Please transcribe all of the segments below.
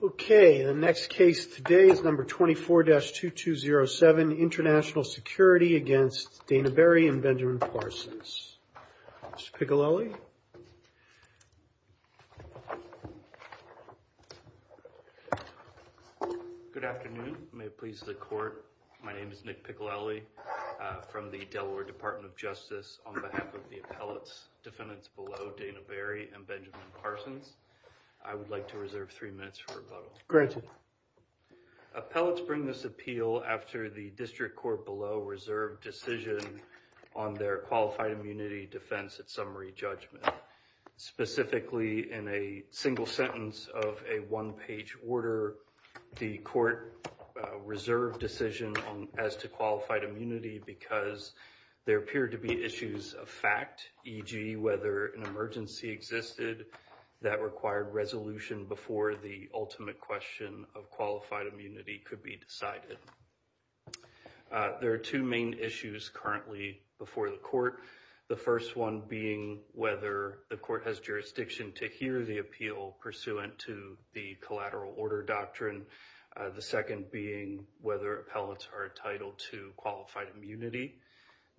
Okay, the next case today is number 24-2207 International Security against Dana Berry and Benjamin Parsons. Mr. Piccolelli. Good afternoon, may it please the court, my name is Nick Piccolelli from the Delaware Department of Justice on behalf of the appellate's defendants below, Dana Berry and Benjamin Parsons. I would like to reserve three minutes for rebuttal. Appellates bring this appeal after the district court below reserved decision on their qualified immunity defense at summary judgment. Specifically in a single sentence of a one-page order, the court reserved decision as to qualified immunity issues of fact e.g. whether an emergency existed that required resolution before the ultimate question of qualified immunity could be decided. There are two main issues currently before the court. The first one being whether the court has jurisdiction to hear the appeal pursuant to the collateral order doctrine. The second being whether appellates are entitled to qualified immunity.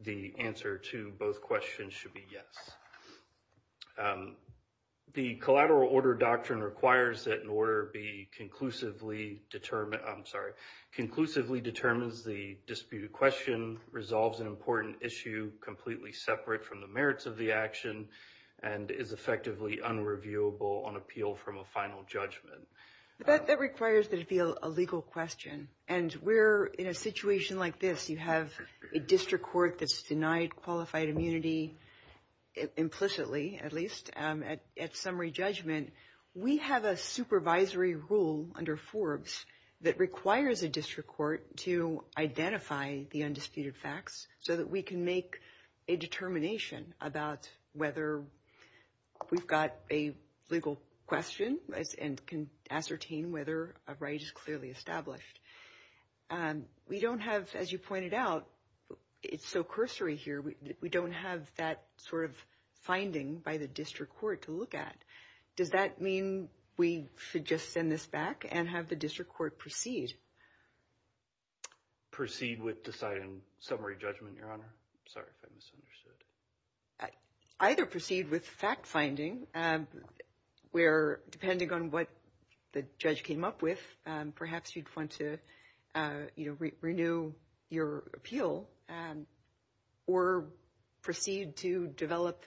The answer to both questions should be yes. The collateral order doctrine requires that an order be conclusively determined, I'm sorry, conclusively determines the disputed question, resolves an important issue completely separate from the merits of the action, and is effectively unreviewable on appeal from a final judgment. That requires that it be a legal question. And we're in a situation like this, you have a district court that's denied qualified immunity, implicitly at least, at summary judgment. We have a supervisory rule under Forbes that requires a district court to identify the undisputed facts so that we can make a determination about whether we've got a legal question and can ascertain whether a right is clearly established. We don't have, as you pointed out, it's so cursory here, we don't have that sort of finding by the district court to look at. Does that mean we should just send this back and have the district court proceed? Proceed with deciding summary judgment, Your Honor? Sorry if I misunderstood. Either proceed with fact-finding, where depending on what the judge came up with, perhaps you'd want to, you know, renew your appeal, or proceed to develop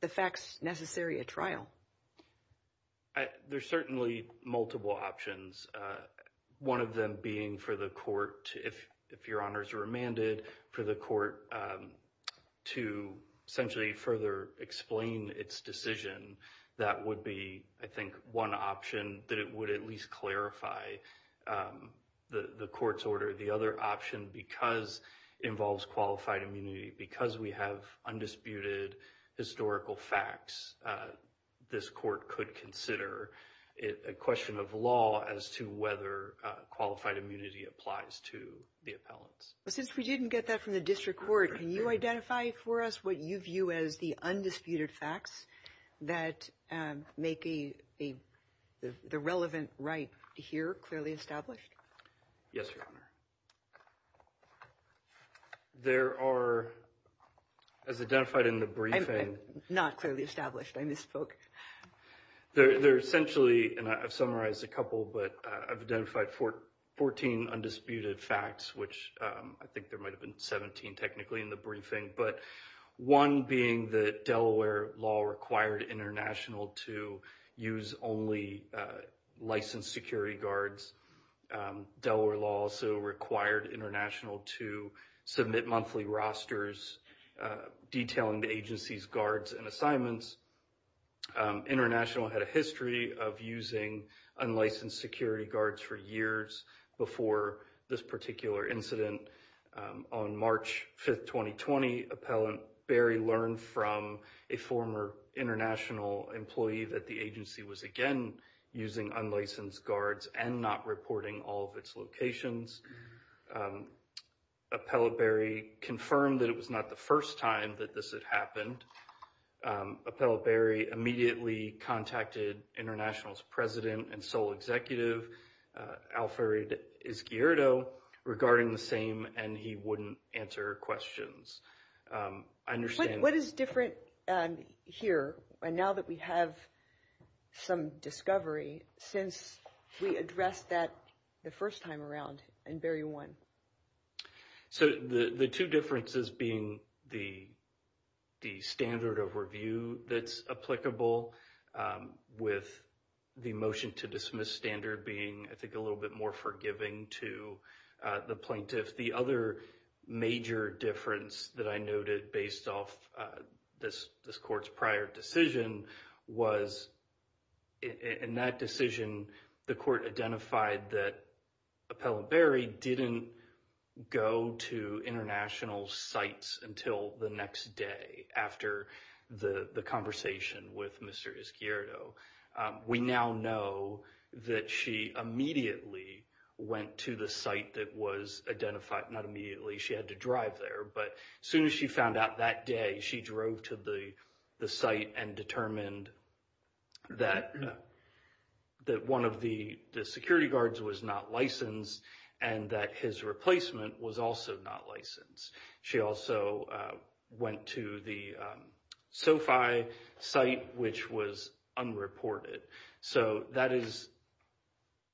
the facts necessary at trial. There's certainly multiple options. One of them being for the court, if Your Honor is remanded, for the court to essentially further explain its decision. That would be, I think, one option that it would at least clarify the court's order. The other option, because it involves qualified immunity, because we have undisputed historical facts, this court could consider a question of law as to whether qualified immunity applies to the appellants. Since we didn't get that from the district court, can you identify for us what you view as the undisputed facts that make the relevant right here clearly established? Yes, Your Honor. There are, as identified in the briefing... Not clearly established. I misspoke. They're essentially, and I've summarized a couple, but I've identified 14 undisputed facts, which I think there might have been 17 technically in the briefing, but one being that Delaware law required international to use only licensed security guards. Delaware law also required international to submit monthly rosters detailing the agency's guards and assignments. International had a history of using unlicensed security guards for years before this particular incident. On March 5th, 2020, Appellant Barry learned from a former international employee that the agency was again using unlicensed guards and not reporting all of its locations. Appellant Barry confirmed that it was not the first time that this had happened. Appellant Barry immediately contacted international's president and sole executive, Alfred Izquierdo, regarding the same, and he wouldn't answer questions. What is different here, now that we have some discovery, since we addressed that the first time around in barrier one? So the two differences being the standard of review that's applicable with the motion to dismiss standard being, I think, a little bit more forgiving to the plaintiff. The other major difference that I noted based off this court's prior decision was in that decision, the court identified that Appellant Barry didn't go to international's sites until the next day after the conversation with Mr. Izquierdo. We now know that she immediately went to the site that was identified, not immediately, she had to drive there. But as soon as she found out that day, she drove to the site and determined that one of the security guards was not licensed and that his replacement was also not licensed. She also went to the SOFI site, which was unreported. So that is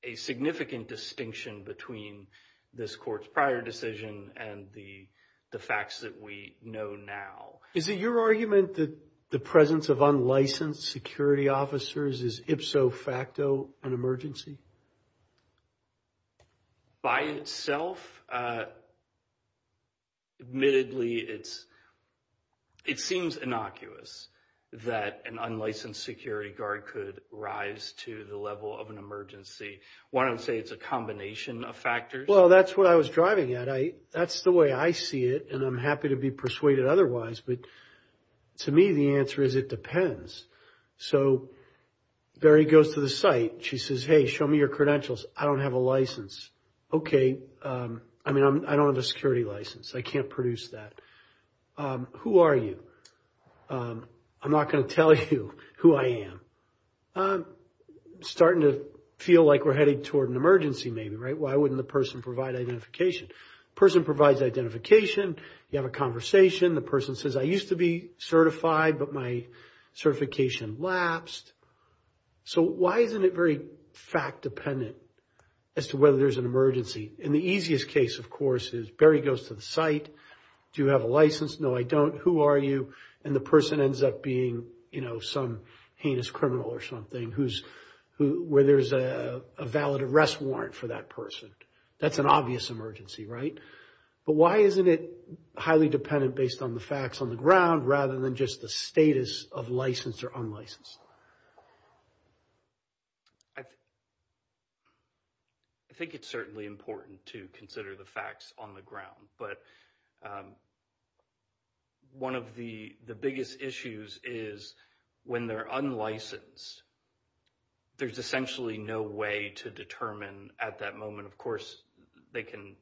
a significant distinction between this court's prior decision and the facts that we know now. Is it your argument that the presence of unlicensed security officers is ipso facto an emergency? By itself, admittedly, it seems innocuous that an unlicensed security guard could rise to the level of an emergency. Why don't you say it's a combination of factors? Well, that's what I was driving at. That's the way I see it. And I'm happy to be persuaded otherwise. But to me, the answer is it depends. So Barry goes to the site. She says, hey, show me your credentials. I don't have a license. Okay. I mean, I don't have a security license. I can't produce that. Who are you? I'm not going to tell you who I am. Starting to feel like we're headed toward an emergency maybe, right? Why wouldn't the person provide identification? Person provides identification. You have a conversation. The person says, I used to be certified, but my certification lapsed. So why isn't it very fact dependent as to whether there's an emergency? And the easiest case, of course, is Barry goes to the site. Do you have a license? No, I don't. Who are you? And the person ends up being some heinous criminal or something where there's a valid arrest warrant for that person. That's an obvious emergency, right? But why isn't it highly dependent based on the facts on the ground rather than just the status of licensed or unlicensed? I think it's certainly important to consider the facts on the ground. But one of the biggest issues is when they're unlicensed, there's essentially no way to determine at that moment. Of course, they can,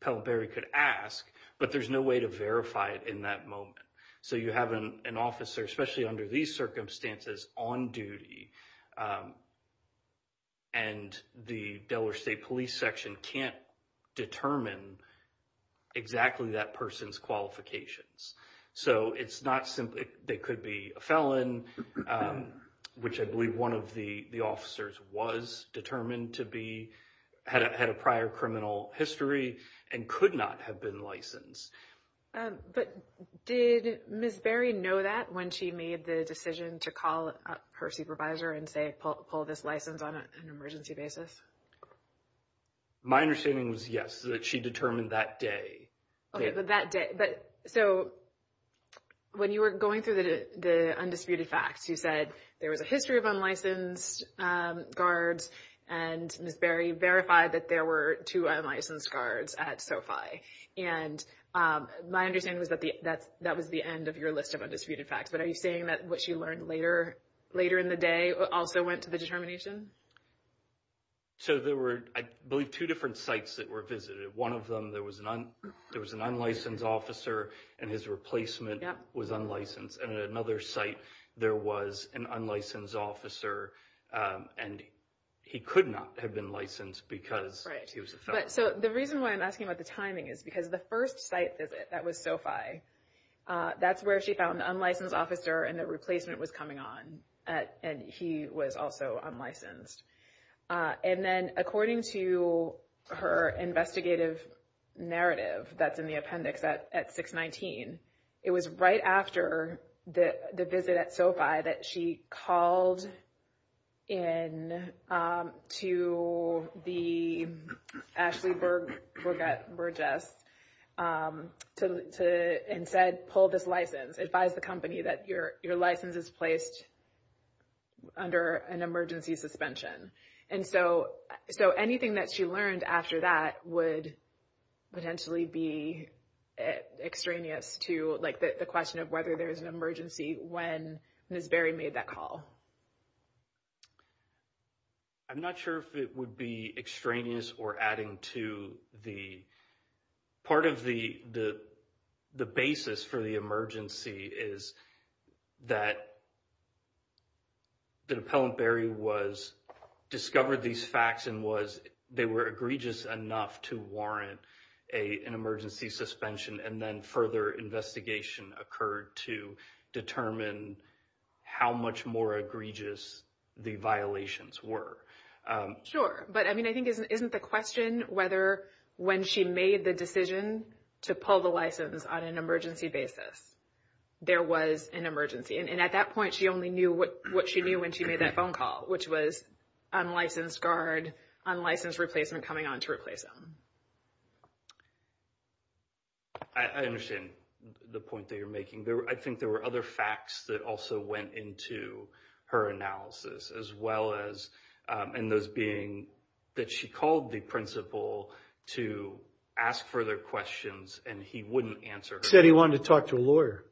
Pell and Barry could ask, but there's no way to verify it in that moment. So you have an officer, especially under these circumstances, on duty. And the Delaware State Police Section can't determine exactly that person's qualifications. So it's not simply, they could be a felon, which I believe one of the officers was determined to be, had a prior criminal history and could not have been licensed. But did Ms. Barry know that when she made the decision to call her supervisor and say, pull this license on an emergency basis? My understanding was yes, that she determined that day. Okay, but that day. But so when you were going through the undisputed facts, you said there was a history of unlicensed guards. And Ms. Barry verified that there were two unlicensed guards at SoFi. And my understanding was that that was the end of your list of undisputed facts. But are you saying that what she learned later in the day also went to the determination? So there were, I believe, two different sites that were visited. One of them, there was an unlicensed officer, and his replacement was unlicensed. And at another site, there was an unlicensed officer, and he could not have been licensed because he was a felon. So the reason why I'm asking about the timing is because the first site visit that was SoFi, that's where she found the unlicensed officer and the replacement was coming on, and he was also unlicensed. And then according to her investigative narrative that's in the appendix at 619, it was right after the visit at SoFi that she called in to the Ashley Burgess and said, pull this license. Advise the company that your license is placed under an emergency suspension. And so anything that she learned after that would potentially be extraneous to like the question of whether there was an emergency when Ms. Berry made that call. I'm not sure if it would be extraneous or adding to the... Part of the basis for the emergency is that the appellant Berry discovered these facts and was, they were egregious enough to warrant an emergency suspension. And then further investigation occurred to determine how much more egregious the violations were. Sure. But I mean, I think isn't the question whether when she made the decision to pull the license on an emergency basis, there was an emergency. And at that point, she only knew what she knew when she made that phone call, which was unlicensed guard, unlicensed replacement coming on to replace him. I understand the point that you're making. I think there were other facts that also went into her analysis, as well as in those being that she called the principal to ask further questions and he wouldn't answer. Said he wanted to talk to a lawyer.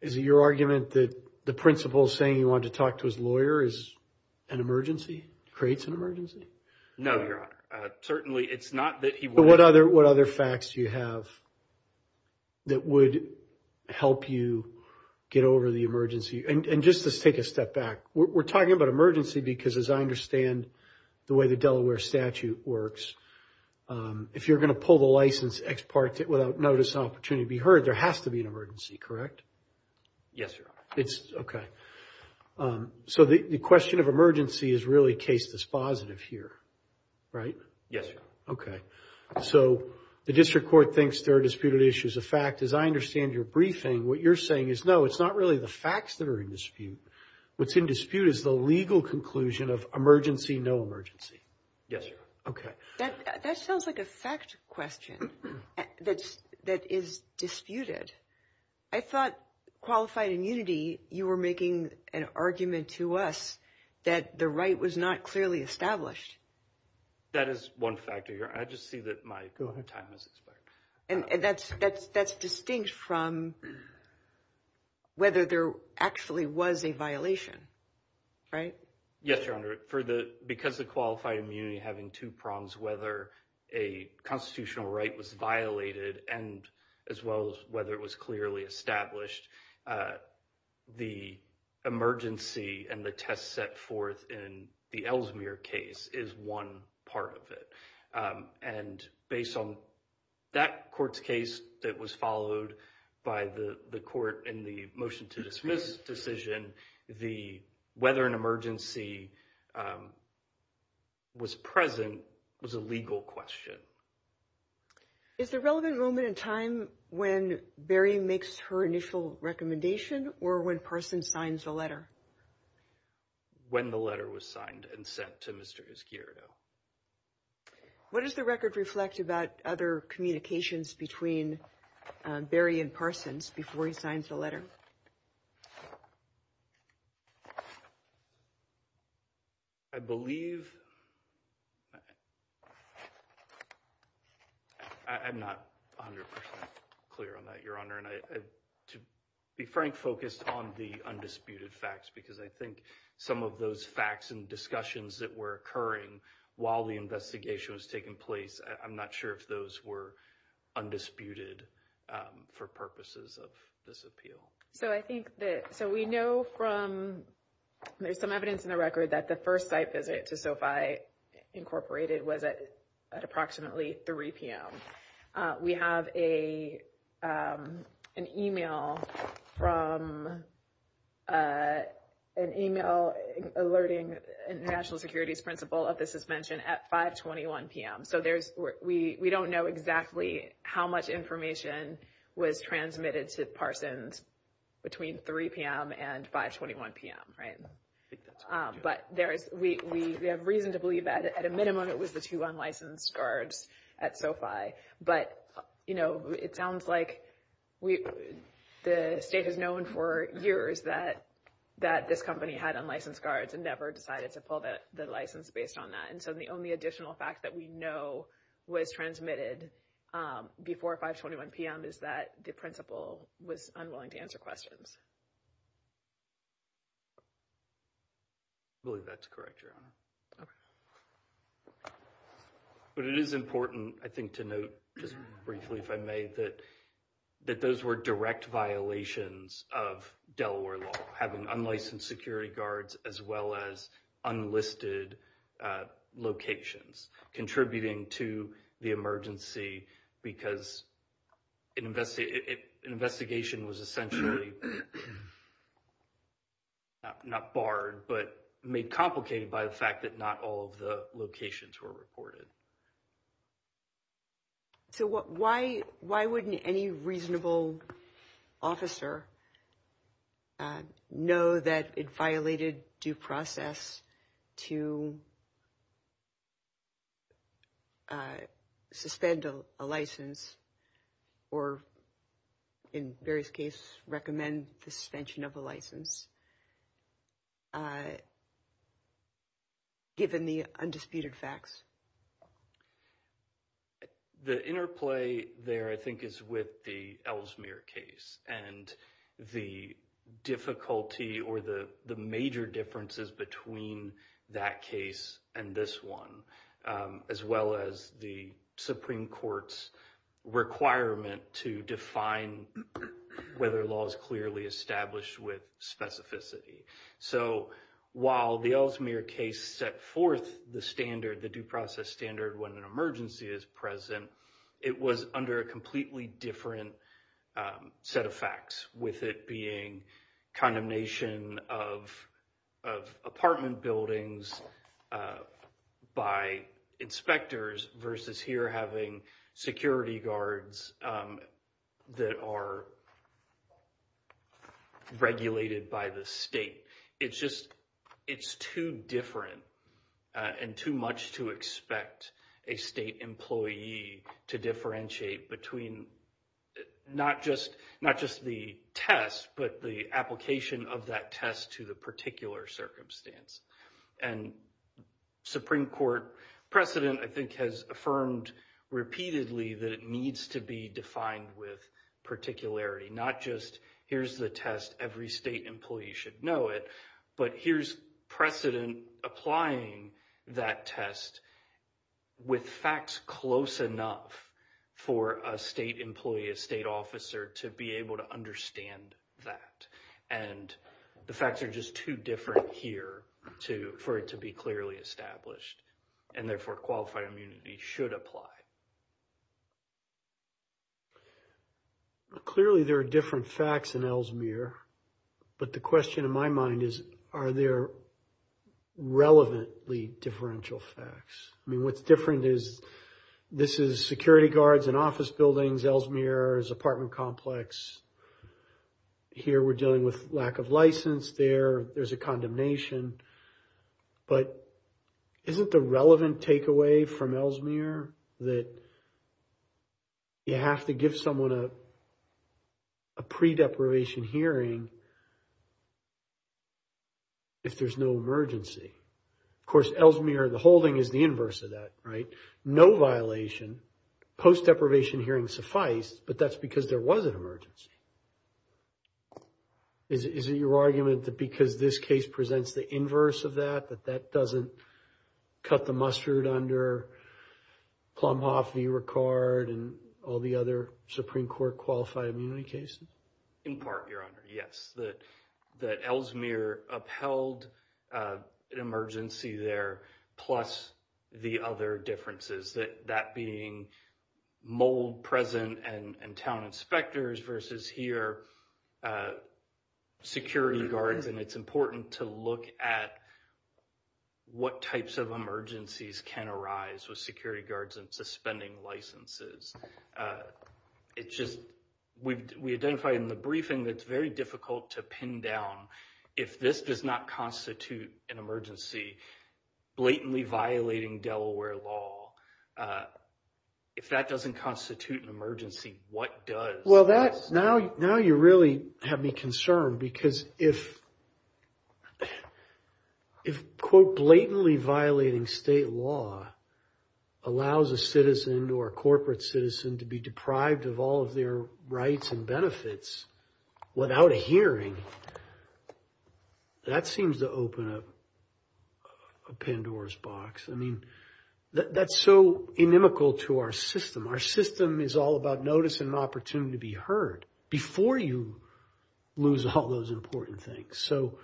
Is it your argument that the principal saying he wanted to talk to his lawyer is an emergency? Creates an emergency? No, Your Honor. Certainly it's not that he... What other facts do you have that would help you get over the emergency? And just to take a step back, we're talking about emergency because, as I understand the way the Delaware statute works, if you're going to pull the license without notice and opportunity to be heard, there has to be an emergency, correct? Yes, Your Honor. It's... So the question of emergency is really case dispositive here, right? Yes, Your Honor. Okay. So the district court thinks there are disputed issues of fact. As I understand your briefing, what you're saying is, no, it's not really the facts that are in dispute. What's in dispute is the legal conclusion of emergency, no emergency. Yes, Your Honor. Okay. That sounds like a fact question that is disputed. I thought, qualified in unity, you were making an argument to us that the right was not clearly established. That is one factor, Your Honor. I just see that my time has expired. And that's distinct from whether there actually was a violation, right? Yes, Your Honor. Because of qualified immunity having two prongs, whether a constitutional right was violated and as well as whether it was clearly established, the emergency and the test set forth in the Ellesmere case is one part of it. And based on that court's case that was followed by the court in the motion to dismiss decision, the whether an emergency was present was a legal question. Is the relevant moment in time when Barry makes her initial recommendation or when Parson signs the letter? When the letter was signed and sent to Mr. Esquiredo. What does the record reflect about other communications between Barry and Parsons before he signs the letter? I believe... I'm not 100% clear on that, Your Honor. And to be frank, focused on the undisputed facts, because I think some of those facts and discussions that were occurring while the investigation was taking place, I'm not sure if those were undisputed for purposes of this appeal. So I think that... So we know from... There's some evidence in the record that the first site visit to SOFI Incorporated was at approximately 3 p.m. We have an email from... An email alerting National Securities Principal of the suspension at 521 p.m. So we don't know exactly how much information was transmitted to Parsons between 3 p.m. and 521 p.m., right? But we have reason to believe that at a minimum, it was the two unlicensed guards at SOFI. But it sounds like the state has known for years that this company had unlicensed guards and never decided to pull the license based on that. And so the only additional fact that we know was transmitted before 521 p.m. is that the principal was unwilling to answer questions. I believe that's correct, Your Honor. Okay. But it is important, I think, to note just briefly, if I may, that those were direct violations of Delaware law, having unlicensed security guards as well as unlisted locations contributing to the emergency because an investigation was essentially... ...not barred, but made complicated by the fact that not all of the locations were reported. So why wouldn't any reasonable officer know that it violated due process to amend the suspension of a license given the undisputed facts? The interplay there, I think, is with the Ellesmere case and the difficulty or the major differences between that case and this one, as well as the Supreme Court's requirement to define whether law is clearly established with specificity. So while the Ellesmere case set forth the standard, the due process standard when an emergency is present, it was under a completely different set of facts with it being condemnation of apartment buildings ...by inspectors versus here having security guards that are regulated by the state. It's just, it's too different and too much to expect a state employee to differentiate between not just the test, but the application of that test to the particular circumstance. And Supreme Court precedent, I think, has affirmed repeatedly that it needs to be defined with particularity, not just here's the test, every state employee should know it, but here's precedent applying that test with facts close enough for a state employee, a state officer to be able to understand that. And the facts are just too different here for it to be clearly established and therefore qualified immunity should apply. Clearly, there are different facts in Ellesmere, but the question in my mind is, are there relevantly differential facts? I mean, what's different is this is security guards in office buildings, Ellesmere is apartment complex. Here, we're dealing with lack of license. There, there's a condemnation. But isn't the relevant takeaway from Ellesmere that you have to give someone a pre-deprivation hearing if there's no emergency? Of course, Ellesmere, the holding is the inverse of that, right? No violation, post-deprivation hearings suffice, but that's because there was an emergency. Is it your argument that because this case presents the inverse of that, that that doesn't cut the mustard under Plumhoff v. Ricard and all the other Supreme Court qualified immunity cases? In part, Your Honor, yes. That Ellesmere upheld an emergency there plus the other differences, that being mold present and town inspectors versus here, security guards, and it's important to look at what types of emergencies can arise with security guards and suspending licenses. It's just, we identified in the briefing that it's very difficult to pin down if this does not constitute an emergency, blatantly violating Delaware law, if that doesn't constitute an emergency, what does? Well, now you really have me concerned because if, if, quote, blatantly violating state law allows a citizen or a corporate citizen to be deprived of all of their rights and benefits without a hearing, that seems to open up a Pandora's box. I mean, that's so inimical to our system. Our system is all about notice and an opportunity to be heard before you lose all those important things. So,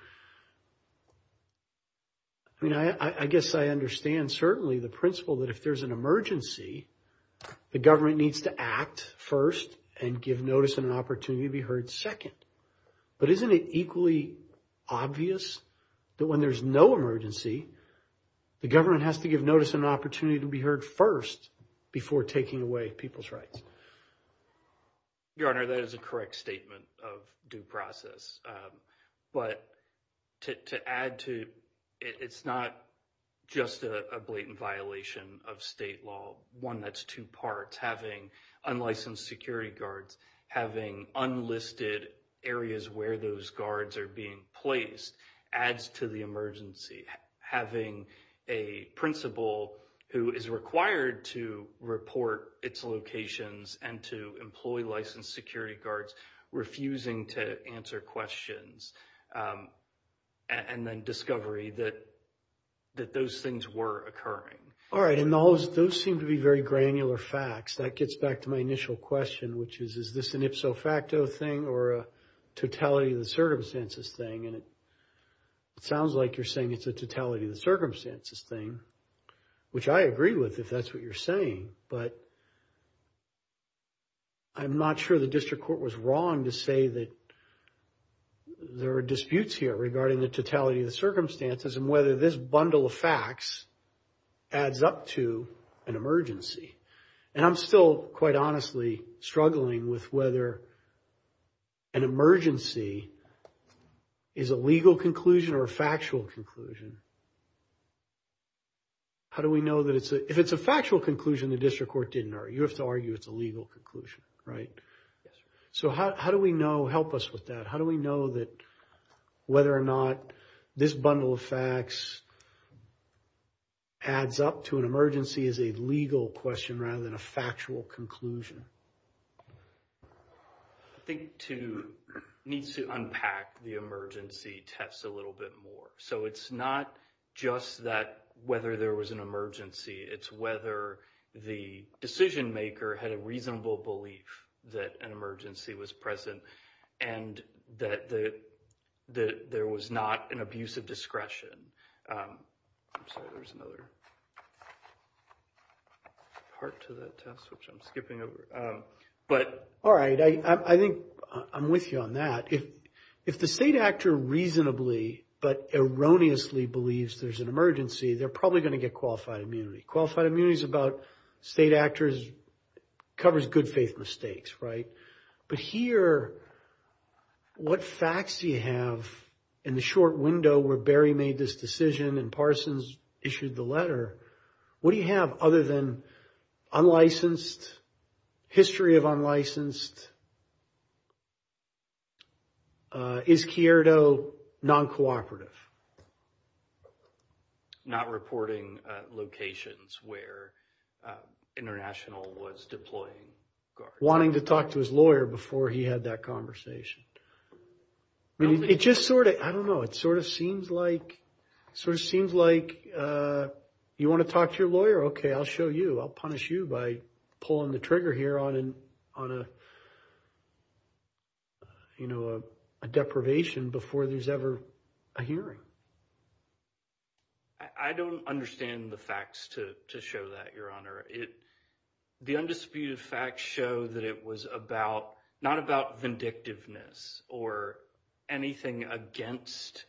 I mean, I guess I understand certainly the principle that if there's an emergency, the government needs to act first and give notice and an opportunity to be heard second. But isn't it equally obvious that when there's no emergency, the government has to give notice and an opportunity to be heard first before taking away people's rights? Your Honor, that is a correct statement of due process. But to add to, it's not just a blatant violation of state law, one that's two parts. Having unlicensed security guards, having unlisted areas where those guards are being placed, adds to the emergency. Having a principal who is required to report its locations and to employ licensed security guards refusing to answer questions and then discovery that those things were occurring. All right. And those seem to be very granular facts. That gets back to my initial question, which is, is this an ipso facto thing or a totality of the circumstances thing? And it sounds like you're saying it's a totality of the circumstances thing, which I agree with if that's what you're saying. But I'm not sure the district court was wrong to say that there are disputes here regarding the totality of the circumstances and whether this bundle of facts adds up to an emergency. And I'm still, quite honestly, struggling with whether an emergency is a legal conclusion or a factual conclusion. How do we know that it's a... If it's a factual conclusion, the district court didn't argue. You have to argue it's a legal conclusion, right? Yes, sir. So how do we know... Help us with that. How do we know that whether or not this bundle of facts adds up to an emergency is a legal question rather than a factual conclusion? I think needs to unpack the emergency test a little bit more. So it's not just that whether there was an emergency, it's whether the decision maker had a reasonable belief that an emergency was present and that there was not an abuse of discretion. I'm sorry, there's another part to that test, which I'm skipping over. But... All right, I think I'm with you on that. If the state actor reasonably but erroneously believes there's an emergency, they're probably going to get qualified immunity. Qualified immunity is about state actors, covers good faith mistakes, right? But here, what facts do you have in the short window where Barry made this decision and Parsons issued the letter? What do you have other than unlicensed, history of unlicensed? Is Chiarito non-cooperative? Not reporting locations where International was deploying guards. Wanting to talk to his lawyer before he had that conversation. It just sort of... It sort of seems like you want to talk to your lawyer. Okay, I'll show you. I'll punish you by pulling the trigger here on a deprivation before there's ever a hearing. I don't understand the facts to show that, Your Honor. The undisputed facts show that it was not about vindictiveness or anything against,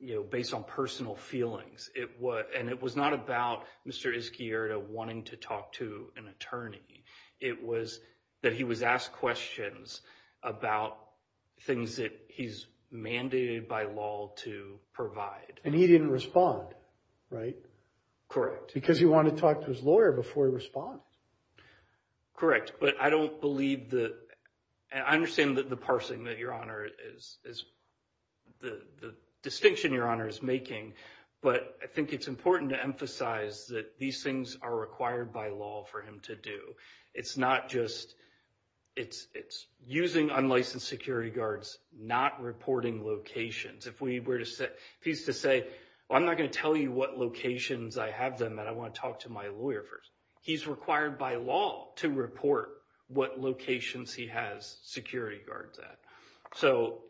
you know, based on personal feelings. And it was not about Mr. Izquierdo wanting to talk to an attorney. It was that he was asked questions about things that he's mandated by law to provide. And he didn't respond, right? Correct. Because he wanted to talk to his lawyer before he responded. Correct. But I don't believe the... And I understand that the parsing that, Your Honor, is the distinction Your Honor is making. But I think it's important to emphasize that these things are required by law for him to do. It's not just... It's using unlicensed security guards, not reporting locations. If we were to say... If he's to say, well, I'm not going to tell you what locations I have them at. I want to talk to my lawyer first. He's required by law to report what locations he has security guards at. So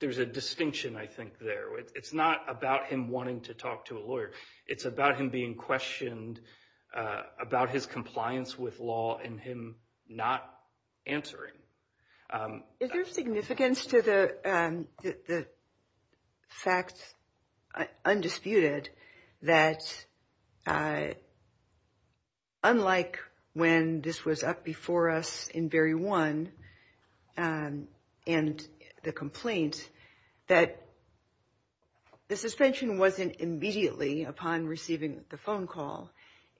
there's a distinction, I think, there. It's not about him wanting to talk to a lawyer. It's about him being questioned about his compliance with law and him not answering. Is there significance to the fact, undisputed, that unlike when this was up before us in Berry 1 and the complaint, that the suspension wasn't immediately upon receiving the phone call.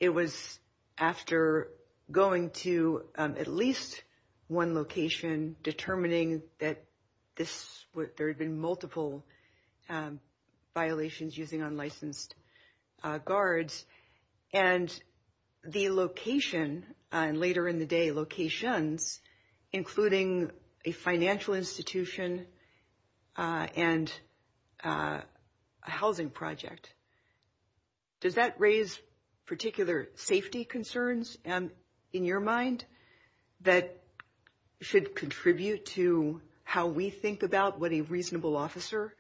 It was after going to at least one location, determining that there had been multiple violations using unlicensed guards. And the location, and later in the day, locations, including a financial institution and a housing project. Does that raise particular safety concerns in your mind that should contribute to how we think about what a reasonable officer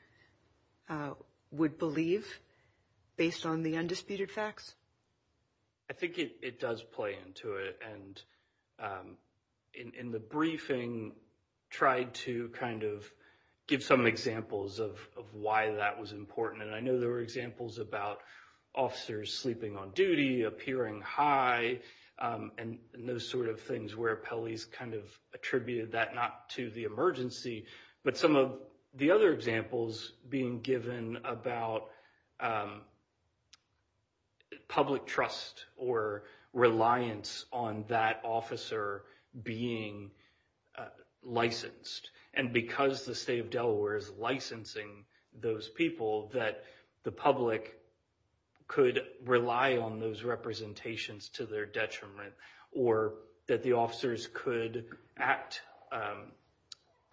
would believe based on the undisputed facts? I think it does play into it. And in the briefing, tried to kind of give some examples of why that was important. And I know there were examples about officers sleeping on duty, appearing high, and those sort of things where appellees kind of attributed that not to the emergency. But some of the other examples being given about public trust or reliance on that officer being licensed. And because the state of Delaware is licensing those people, that the public could rely on those representations to their detriment, or that the officers could act,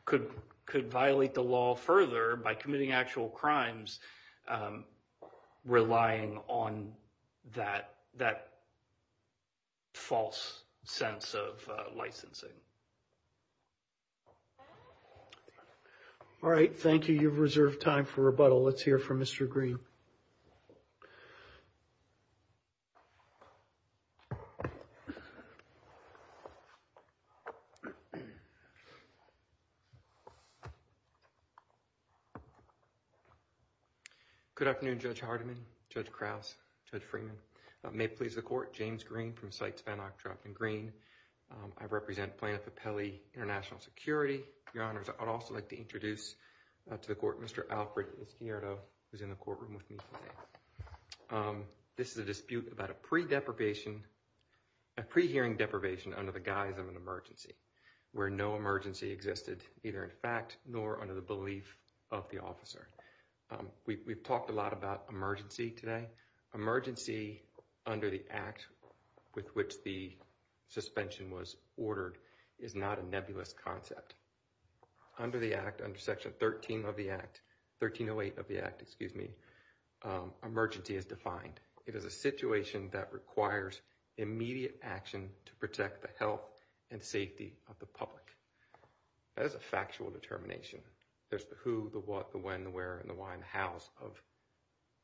could violate the law further by committing actual crimes, relying on that false sense of licensing. All right. Thank you. You've reserved time for rebuttal. Let's hear from Mr. Green. Good afternoon, Judge Hardiman, Judge Krause, Judge Freeman. May it please the Court. James Green from CITES, Van Ock, Joplin Green. I represent Plano Papelli International Security. Your Honors, I'd also like to introduce to the Court Mr. Alfred Izquierdo, who's in the courtroom with me today. This is a dispute about a pre-deprivation, a pre-hearing deprivation under the guise of an emergency, where no emergency existed, neither in fact, nor under the belief of the We've talked a lot about emergency today. Emergency under the act with which the suspension was ordered is not a nebulous concept. Under the act, under section 13 of the act, 1308 of the act, excuse me, emergency is defined. It is a situation that requires immediate action to protect the health and safety of the public. That is a factual determination. There's the who, the what, the when, the where, and the why, and the hows of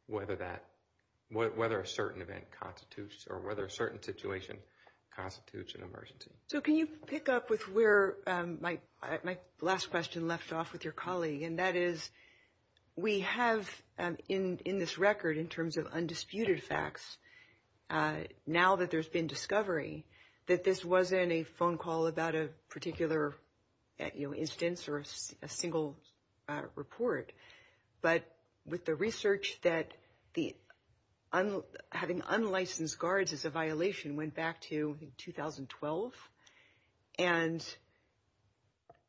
whether a certain event constitutes, or whether a certain situation constitutes an emergency. So can you pick up with where my last question left off with your colleague? And that is, we have, in this record, in terms of undisputed facts, now that there's been discovery, that this wasn't a phone call about a particular instance or a single report, but with the research that having unlicensed guards as violation went back to 2012. And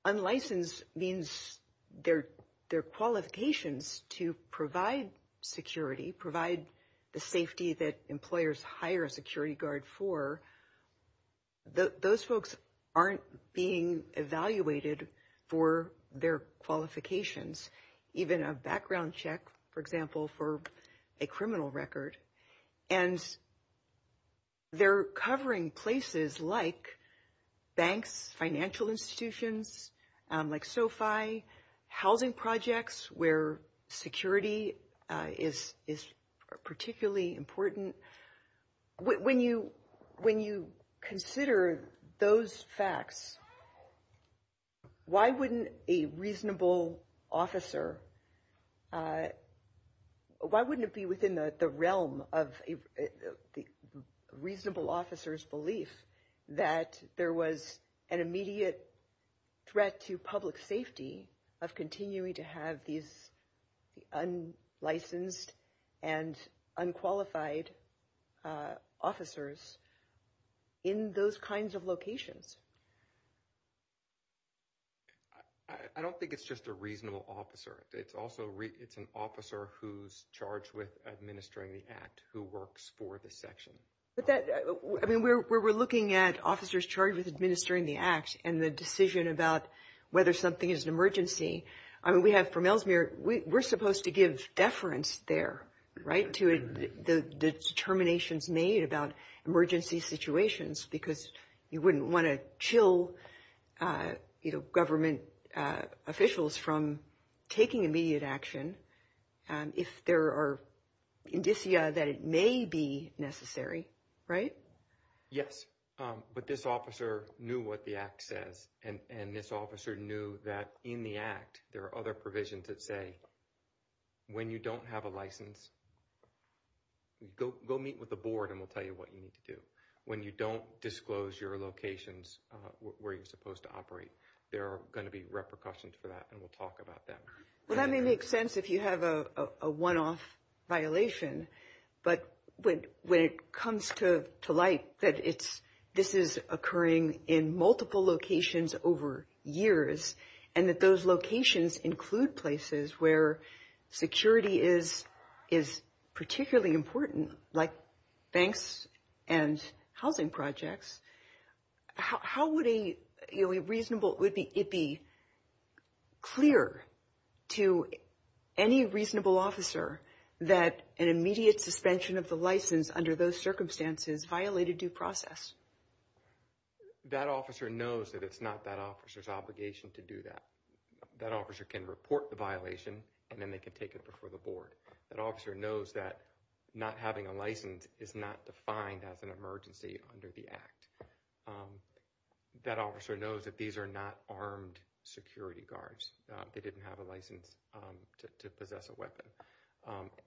unlicensed means their qualifications to provide security, provide the safety that employers hire a security guard for, those folks aren't being evaluated for their qualifications, even a background check, for example, for a criminal record. And they're covering places like banks, financial institutions, like SOFI, housing projects, where security is particularly important. When you consider those facts, why wouldn't a reasonable officer, why wouldn't it be within the realm of a reasonable officer's belief that there was an immediate threat to public safety of continuing to have these unlicensed and unqualified officers in those kinds of locations? I don't think it's just a reasonable officer. It's also, it's an officer who's charged with administering the act, who works for the section. But that, I mean, we're looking at officers charged with administering the act and the decision about whether something is an emergency. I mean, we have from Ellesmere, we're supposed to give deference there, right, to the determinations made about emergency situations, because you wouldn't want to chill government officials from taking immediate action if there are indicia that it may be necessary, right? Yes, but this officer knew what the act says, and this officer knew that in the act, there are other provisions that say, when you don't have a license, go meet with the board and we'll tell you what you need to do. When you don't disclose your locations where you're supposed to operate, there are going to be repercussions for that, and we'll talk about that. Well, that may make sense if you have a one-off violation, but when it comes to light that it's, this is occurring in multiple locations over years, and that those locations include places where security is particularly important, like banks and housing projects, how would a reasonable, would it be clear to any reasonable officer that an immediate suspension of the license under those circumstances violated due process? That officer knows that it's not that officer's obligation to do that. That officer can report the violation, and then they can take it before the board. That officer knows that not having a license is not defined as an emergency under the act. That officer knows that these are not armed security guards. They didn't have a license to possess a weapon,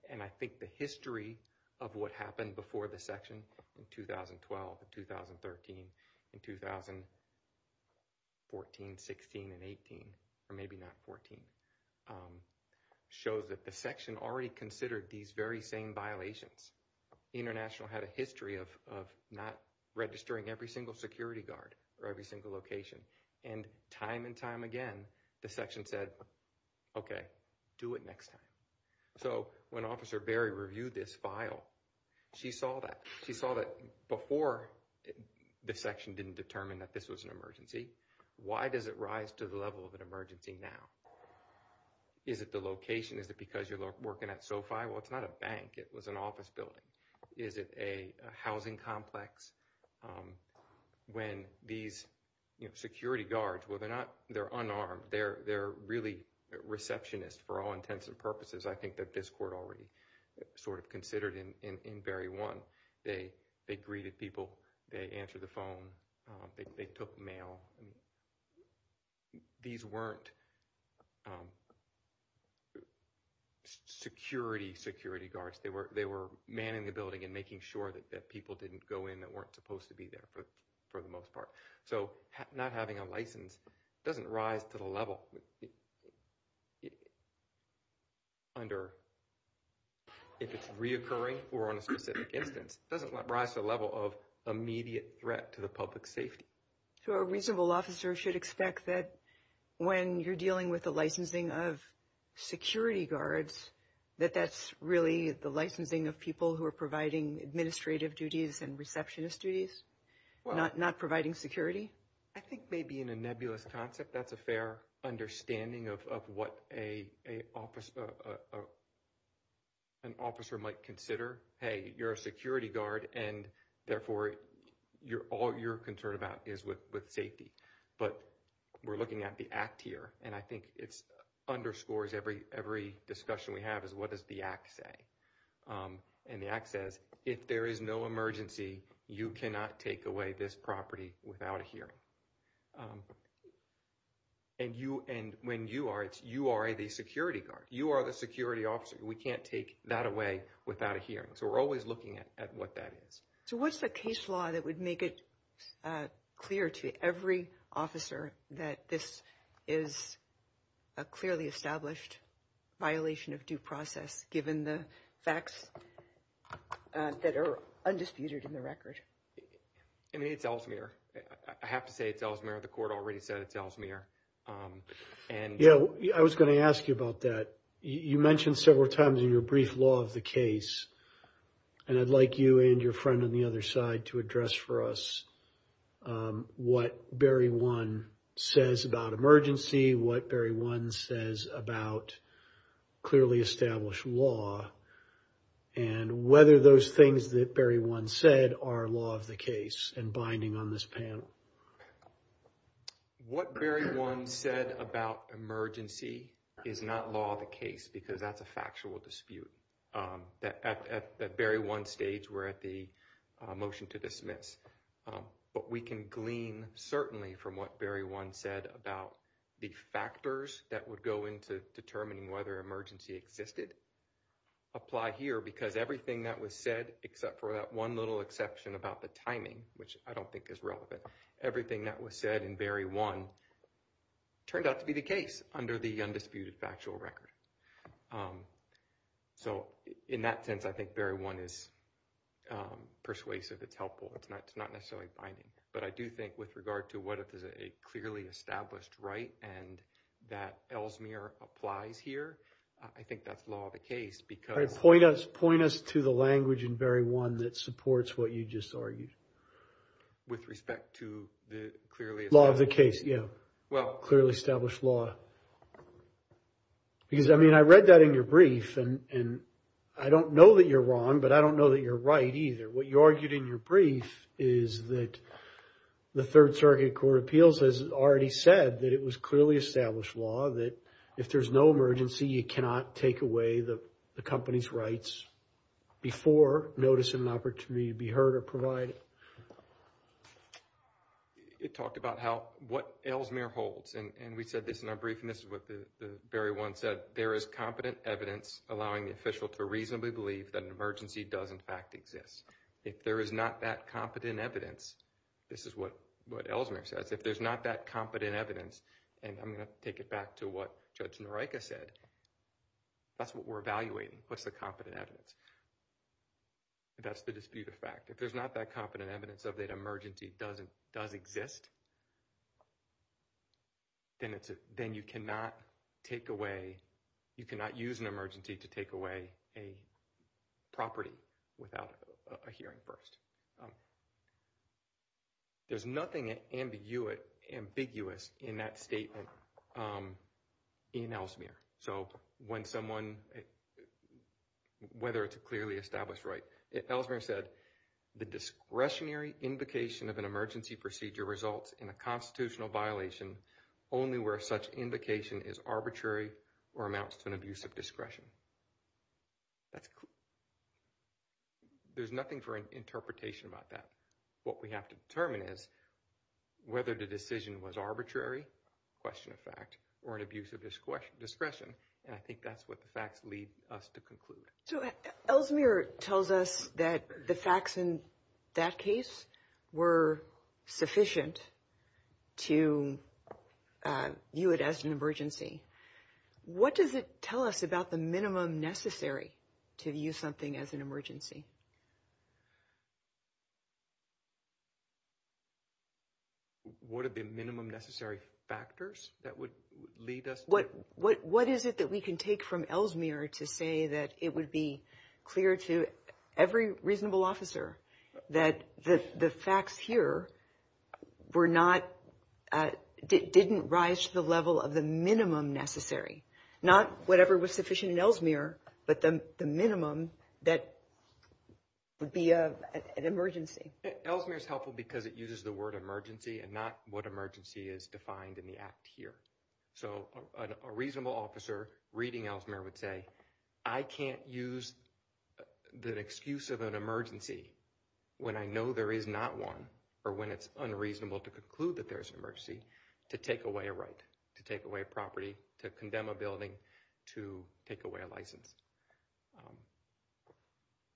and I think the history of what happened before the section in 2012 and 2013 and 2014, 16, and 18, or maybe not 14, shows that the section already considered these very same violations. International had a history of not registering every single security guard for every single location, and time and time again, the section said, okay, do it next time. So when Officer Berry reviewed this file, she saw that. She saw that before the section didn't determine that this was an emergency, why does it rise to the level of an emergency now? Is it the location? Is it because you're working at SoFi? Well, it's not a bank. It was an office building. Is it a housing complex? When these security guards, well, they're not, they're unarmed. They're really receptionist for all intents and purposes. I think that this court already sort of considered in Berry 1. They greeted people. They answered the phone. They took mail. These weren't security security guards. They were manning the building and making sure that people didn't go in that weren't supposed to be there for the most part. So not having a license doesn't rise to the level under if it's reoccurring or on a specific instance. It doesn't rise to the level of immediate threat to the public safety. So a reasonable officer should expect that when you're dealing with the licensing of security guards, that that's really the licensing of people who are providing administrative duties and receptionist duties, not providing security. I think maybe in a nebulous concept, that's a fair understanding of what an officer might consider. Hey, you're a security guard. And therefore, all you're concerned about is with safety. But we're looking at the act here. And I think it underscores every discussion we have is what does the act say? And the act says, if there is no emergency, you cannot take away this property without a hearing. And when you are, you are the security guard. You are the security officer. We can't take that away without a hearing. So we're always looking at what that is. So what's the case law that would make it clear to every officer that this is a clearly established violation of due process, given the facts that are undisputed in the record? I mean, it's Ellesmere. I have to say it's Ellesmere. The court already said it's Ellesmere. Yeah, I was going to ask you about that. You mentioned several times in your brief law of the case. And I'd like you and your friend on the other side to address for us what Barry 1 says about emergency, what Barry 1 says about clearly established law, and whether those things that Barry 1 said are law of the case and binding on this panel. What Barry 1 said about emergency is not law of the case because that's a factual dispute. At Barry 1 stage, we're at the motion to dismiss. But we can glean certainly from what Barry 1 said about the factors that would go into determining whether emergency existed apply here because everything that was said, except for that one little exception about the timing, which I don't think is relevant, everything that was said in Barry 1 turned out to be the case under the undisputed factual record. So in that sense, I think Barry 1 is persuasive. It's helpful. It's not necessarily binding. But I do think with regard to what if there's a clearly established right and that Ellsmere applies here, I think that's law of the case because... All right, point us to the language in Barry 1 that supports what you just argued. With respect to the clearly... Law of the case, yeah. Well... Clearly established law. Because, I mean, I read that in your brief and I don't know that you're wrong, but I don't know that you're right either. What you argued in your brief is that the Third Circuit Court of Appeals has already said that it was clearly established law that if there's no emergency, you cannot take away the company's rights before noticing an opportunity to be heard or provided. It talked about how... What Ellsmere holds, and we said this in our brief, and this is what Barry 1 said, there is competent evidence allowing the official to reasonably believe that an emergency does in fact exist. If there is not that competent evidence, this is what Ellsmere says, if there's not that competent evidence, and I'm going to take it back to what Judge Narika said, that's what we're evaluating. What's the competent evidence? That's the dispute of fact. If there's not that competent evidence of that emergency does exist, then you cannot take away... You cannot use an emergency to take away a property without a hearing first. There's nothing ambiguous in that statement in Ellsmere. So when someone... Whether it's a clearly established right, Ellsmere said, the discretionary invocation of an emergency procedure results in a constitutional violation only where such invocation is arbitrary or amounts to an abuse of discretion. There's nothing for an interpretation about that. What we have to determine is whether the decision was arbitrary, question of fact, or an abuse of discretion, and I think that's what the facts lead us to conclude. So Ellsmere tells us that the facts in that case were sufficient to view it as an emergency. What does it tell us about the minimum necessary to view something as an emergency? What are the minimum necessary factors that would lead us to... Clear to every reasonable officer that the facts here didn't rise to the level of the minimum necessary. Not whatever was sufficient in Ellsmere, but the minimum that would be an emergency. Ellsmere's helpful because it uses the word emergency and not what emergency is defined in the act here. So a reasonable officer reading Ellsmere would say, I can't use the excuse of an emergency when I know there is not one, or when it's unreasonable to conclude that there's an emergency, to take away a right, to take away a property, to condemn a building, to take away a license.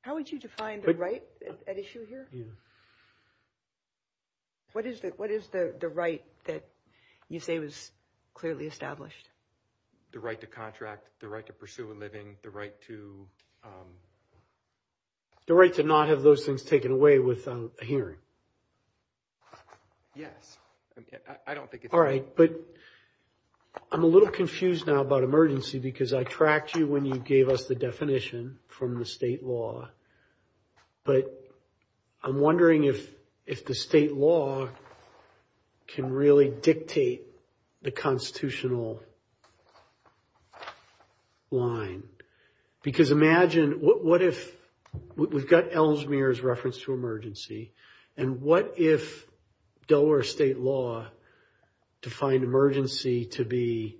How would you define the right at issue here? What is the right that you say was clearly established? The right to contract, the right to pursue a living, the right to... The right to not have those things taken away without a hearing. Yes, I don't think it's... All right, but I'm a little confused now about emergency because I tracked you when you gave us the definition from the state law, but I'm wondering if the state law can really dictate the constitutional line. Because imagine, what if we've got Ellsmere's reference to emergency, and what if Delaware state law defined emergency to be...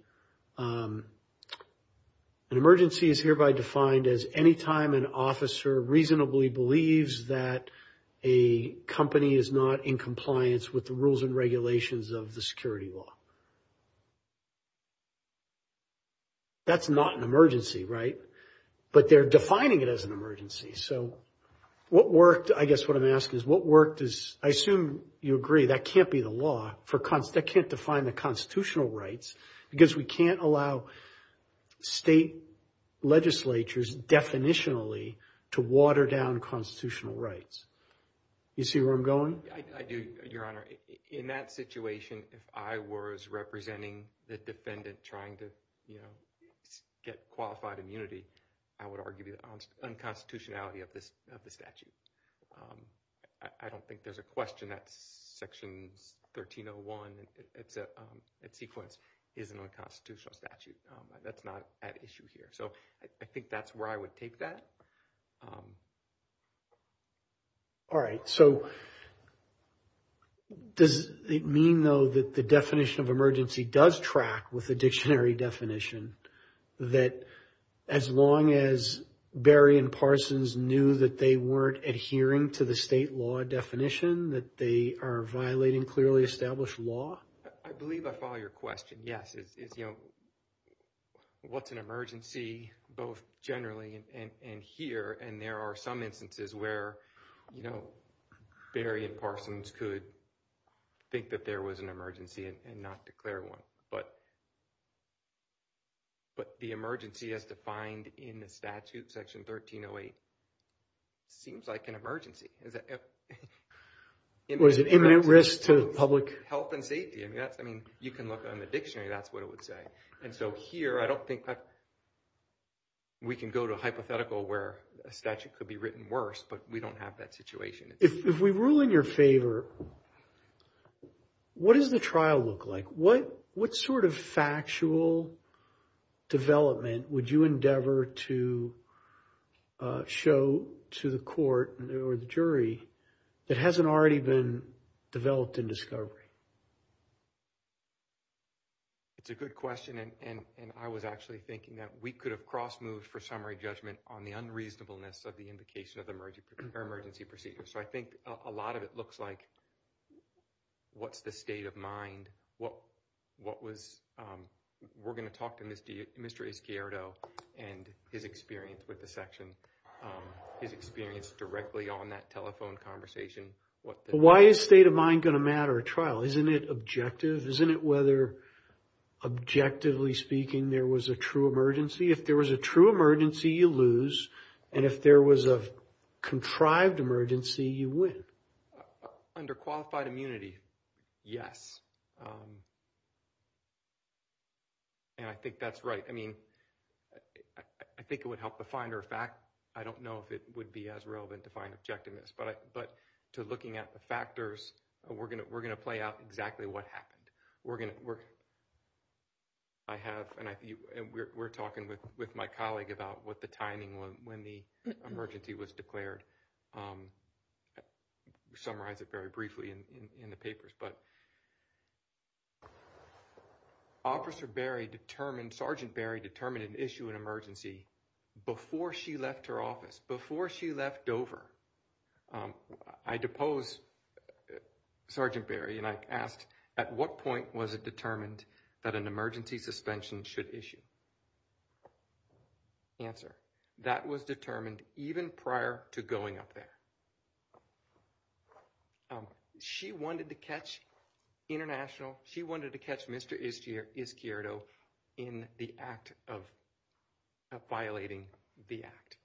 An emergency is hereby defined as any time an officer reasonably believes that a company is not in compliance with the rules and regulations of the security law. That's not an emergency, right? But they're defining it as an emergency. So what worked, I guess what I'm asking is, what worked is... I assume you agree, that can't be the law, that can't define the constitutional rights, because we can't allow state legislatures definitionally to water down constitutional rights. You see where I'm going? I do, your honor. In that situation, if I was representing the defendant trying to get qualified immunity, I would argue the unconstitutionality of the statute. I don't think there's a question that's section 1301, it's sequenced. It's an unconstitutional statute. That's not at issue here. So I think that's where I would take that. All right. So does it mean, though, that the definition of emergency does track with the dictionary definition, that as long as Berry and Parsons knew that they weren't adhering to the state law definition, that they are violating clearly established law? I believe I follow your question. Yes, it's, you know, what's an emergency, both generally and here, and there are some instances where, you know, Berry and Parsons could think that there was an emergency and not declare one. But the emergency as defined in the statute, section 1308, seems like an emergency. Was it imminent risk to the public? Health and safety, I mean, that's, I mean, you can look on the dictionary, that's what it would say. And so here, I don't think that we can go to a hypothetical where a statute could be written worse, but we don't have that situation. If we rule in your favor, what does the trial look like? What sort of factual development would you endeavor to show to the court or the jury that hasn't already been developed in discovery? It's a good question, and I was actually thinking that we could have cross-moved for summary judgment on the unreasonableness of the indication of the emergency procedure. So I think a lot of it looks like what's the state of mind, what was, we're going to talk to Mr. Izquierdo and his experience with the section, his experience directly on that telephone conversation. Why is state of mind going to matter at trial? Isn't it objective? Isn't it whether, objectively speaking, there was a true emergency? If there was a true emergency, you lose. And if there was a contrived emergency, you win. Under qualified immunity, yes. And I think that's right. I mean, I think it would help the finder of fact. I don't know if it would be as relevant to find objectiveness. But to looking at the factors, we're going to play out exactly what happened. I have, and we're talking with my colleague about what the timing, when the emergency was declared. Summarize it very briefly in the papers. Officer Berry determined, Sergeant Berry determined an issue in emergency before she left her office, before she left Dover. I deposed Sergeant Berry and I asked, at what point was it determined that an emergency suspension should issue? Answer, that was determined even prior to going up there. She wanted to catch international, she wanted to catch Mr. Izquierdo in the act of violating the act.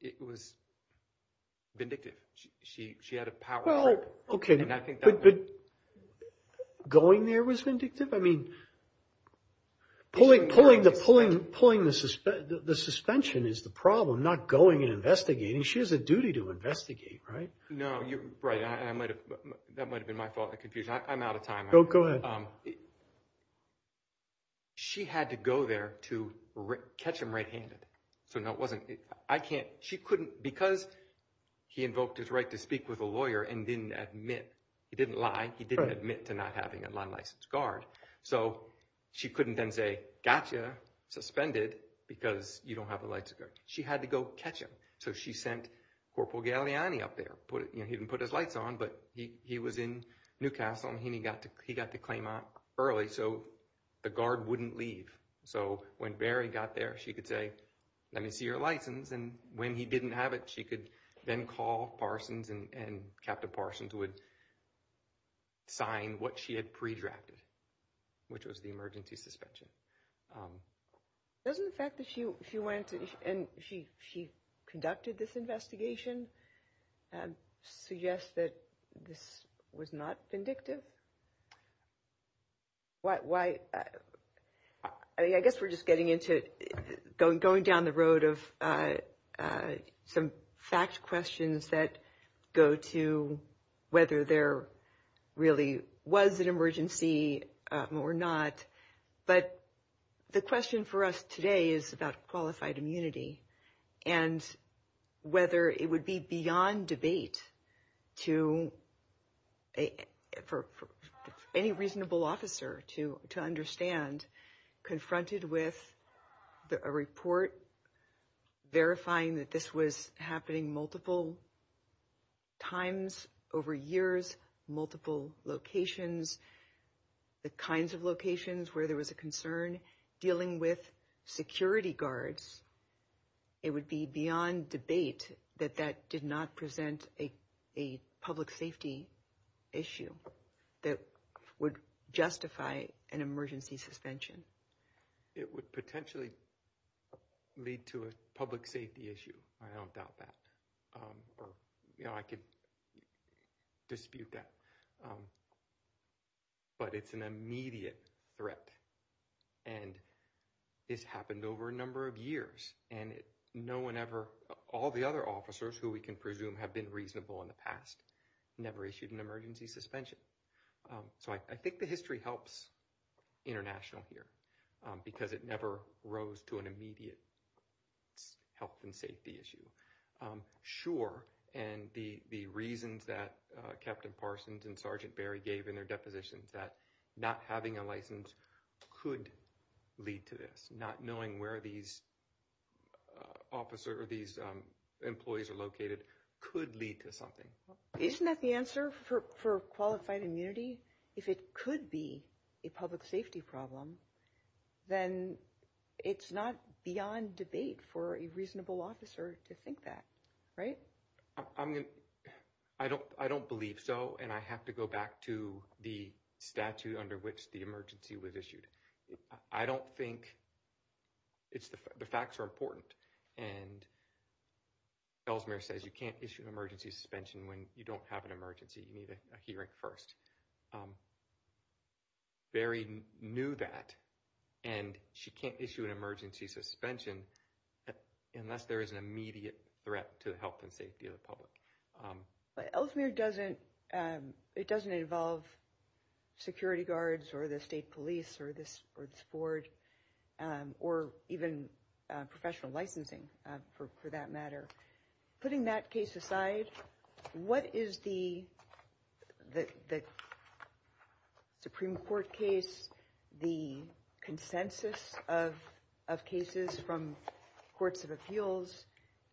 It was vindictive. She had a power. Well, okay. Going there was vindictive? I mean, pulling the suspension is the problem, not going and investigating. She has a duty to investigate, right? No, you're right. That might have been my fault, the confusion. I'm out of time. Go ahead. She had to go there to catch him right-handed. So no, it wasn't, I can't, she couldn't, because he invoked his right to speak with a lawyer and didn't admit, he didn't lie, he didn't admit to not having a licensed guard. So she couldn't then say, gotcha, suspended, because you don't have a license. She had to go catch him. So she sent Corporal Galliani up there, he didn't put his lights on, but he was in Newcastle and he got the claim out early, so the guard wouldn't leave. So when Barry got there, she could say, let me see your license. And when he didn't have it, she could then call Parsons and Captain Parsons would sign what she had pre-drafted, which was the emergency suspension. Doesn't the fact that she went and she conducted this investigation suggest that this was not vindictive? Why, I guess we're just getting into, going down the road of some fact questions that go to whether there really was an emergency or not. But the question for us today is about qualified immunity and whether it would be beyond debate for any reasonable officer to understand, confronted with a report verifying that this was happening multiple times over years, multiple locations, the kinds of locations where there was a concern, dealing with security guards, it would be beyond debate that that did not present a public safety issue that would justify an emergency suspension. It would potentially lead to a public safety issue. I don't doubt that, or I could dispute that. But it's an immediate threat and it's happened over a number of years and no one ever, all the other officers who we can presume have been reasonable in the past, never issued an emergency suspension. So I think the history helps international here because it never rose to an immediate health and safety issue. Sure, and the reasons that Captain Parsons and Sergeant Barry gave in their depositions, that not having a license could lead to this, not knowing where these officer or these employees are located could lead to something. Isn't that the answer for qualified immunity? If it could be a public safety problem, then it's not beyond debate for a reasonable officer to think that, right? I don't believe so. And I have to go back to the statute under which the emergency was issued. I don't think it's, the facts are important. And Ellesmere says you can't issue an emergency suspension when you don't have an emergency, you need a hearing first. Barry knew that and she can't issue an emergency suspension unless there is an immediate threat to the health and safety of the public. But Ellesmere doesn't, it doesn't involve security guards or the state police or this board or even professional licensing for that matter. Putting that case aside, what is the Supreme Court case, the consensus of cases from courts of appeals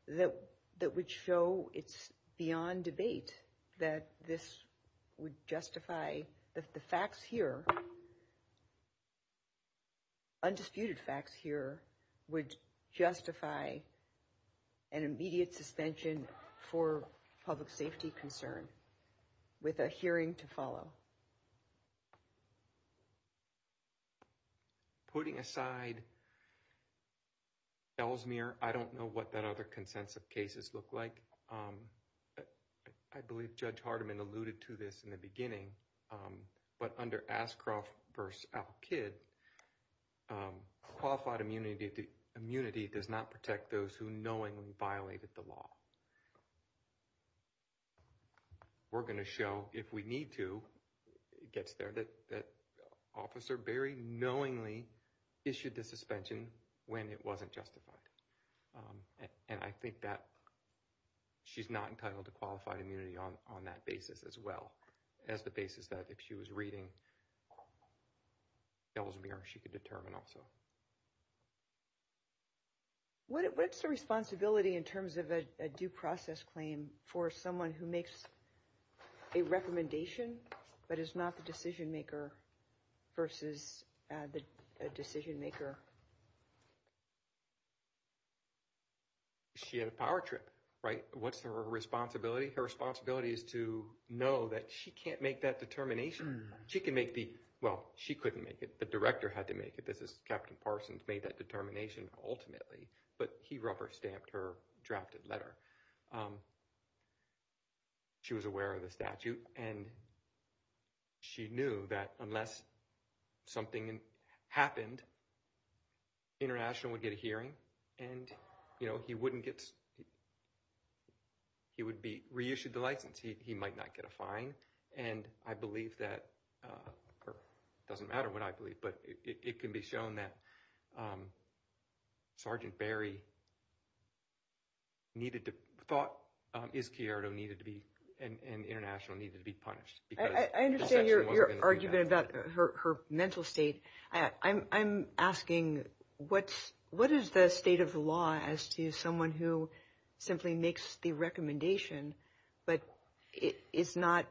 that would show it's beyond debate that this would justify that the facts here, undisputed facts here would justify an immediate suspension for public safety concern with a hearing to follow? Putting aside Ellesmere, I don't know what that other consensus of cases look like. But I believe Judge Hardiman alluded to this in the beginning. But under Ascroft v. Al-Kid, qualified immunity does not protect those who knowingly violated the law. We're going to show if we need to, it gets there, that Officer Barry knowingly issued the suspension when it wasn't justified. And I think that she's not entitled to qualified immunity on that basis as well as the basis that if she was reading Ellesmere, she could determine also. What's the responsibility in terms of a due process claim for someone who makes a recommendation but is not the decision maker versus the decision maker? She had a power trip, right? What's her responsibility? Her responsibility is to know that she can't make that determination. She can make the, well, she couldn't make it. The director had to make it. This is Captain Parsons made that determination ultimately, but he rubber stamped her drafted letter. She was aware of the statute and she knew that unless something happened, the international would get a hearing and he wouldn't get, he would be reissued the license. He might not get a fine. And I believe that, it doesn't matter what I believe, but it can be shown that Sergeant Barry needed to, thought Izquierdo needed to be, and the international needed to be punished. I understand your argument about her mental state. I'm asking, what is the state of the law as to someone who simply makes the recommendation, but is not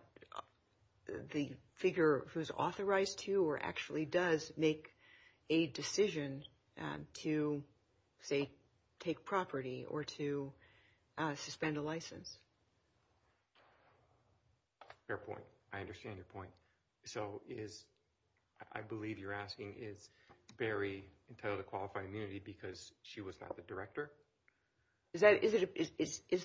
the figure who's authorized to or actually does make a decision to say, take property or to suspend a license? Fair point. I understand your point. So is, I believe you're asking, is Barry entitled to qualified immunity because she was not the director? Is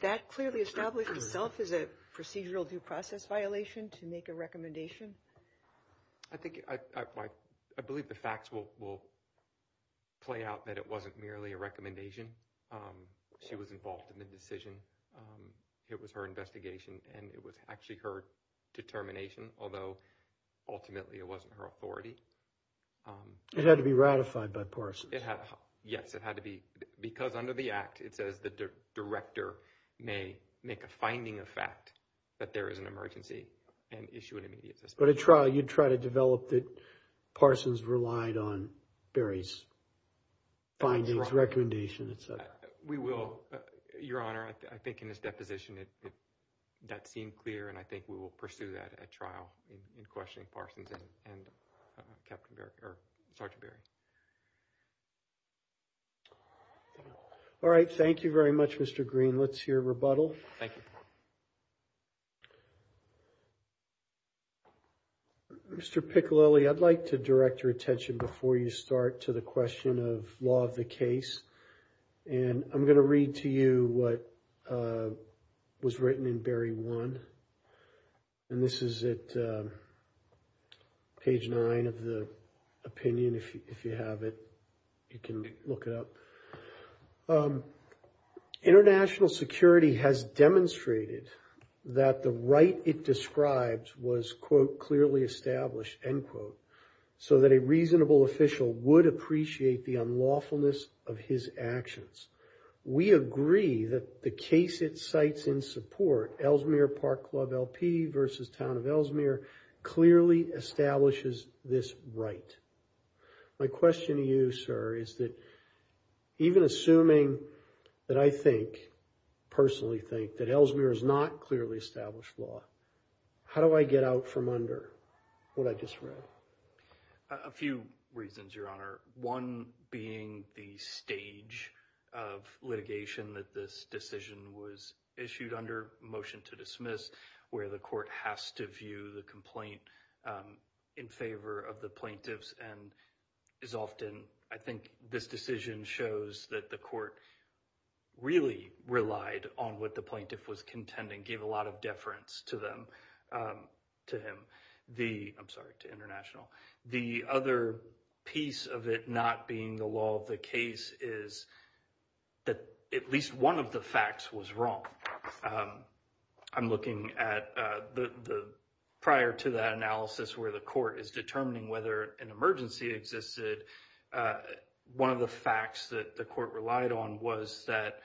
that clearly established itself as a procedural due process violation to make a recommendation? I think, I believe the facts will play out that it wasn't merely a recommendation. She was involved in the decision. It was her investigation and it was actually her determination. Although ultimately it wasn't her authority. It had to be ratified by Parsons. It had, yes. It had to be, because under the act, it says the director may make a finding of fact that there is an emergency and issue an immediate suspension. But at trial, you'd try to develop that Parsons relied on Barry's findings, recommendation, et cetera. We will, Your Honor. I think in his deposition, that seemed clear. And I think we will pursue that at trial in questioning Parsons and Captain Barry, All right. Thank you very much, Mr. Green. Let's hear rebuttal. Thank you. Mr. Piccolilli, I'd like to direct your attention before you start to the question of law of the case. And I'm going to read to you what was written in Barry one. And this is at page nine of the opinion. If you have it, you can look it up. International security has demonstrated that the right it describes was, quote, clearly established, end quote, so that a reasonable official would appreciate the lawfulness of his actions. We agree that the case it cites in support, Ellesmere Park Club LP versus Town of Ellesmere, clearly establishes this right. My question to you, sir, is that even assuming that I think, personally think, that Ellesmere is not clearly established law, how do I get out from under what I just read? A few reasons, Your Honor. One being the stage of litigation that this decision was issued under, motion to dismiss, where the court has to view the complaint in favor of the plaintiffs. And as often, I think this decision shows that the court really relied on what the plaintiff was contending, gave a lot of deference to them, to him. I'm sorry, to International. The other piece of it not being the law of the case is that at least one of the facts was wrong. I'm looking at the prior to that analysis where the court is determining whether an emergency existed, one of the facts that the court relied on was that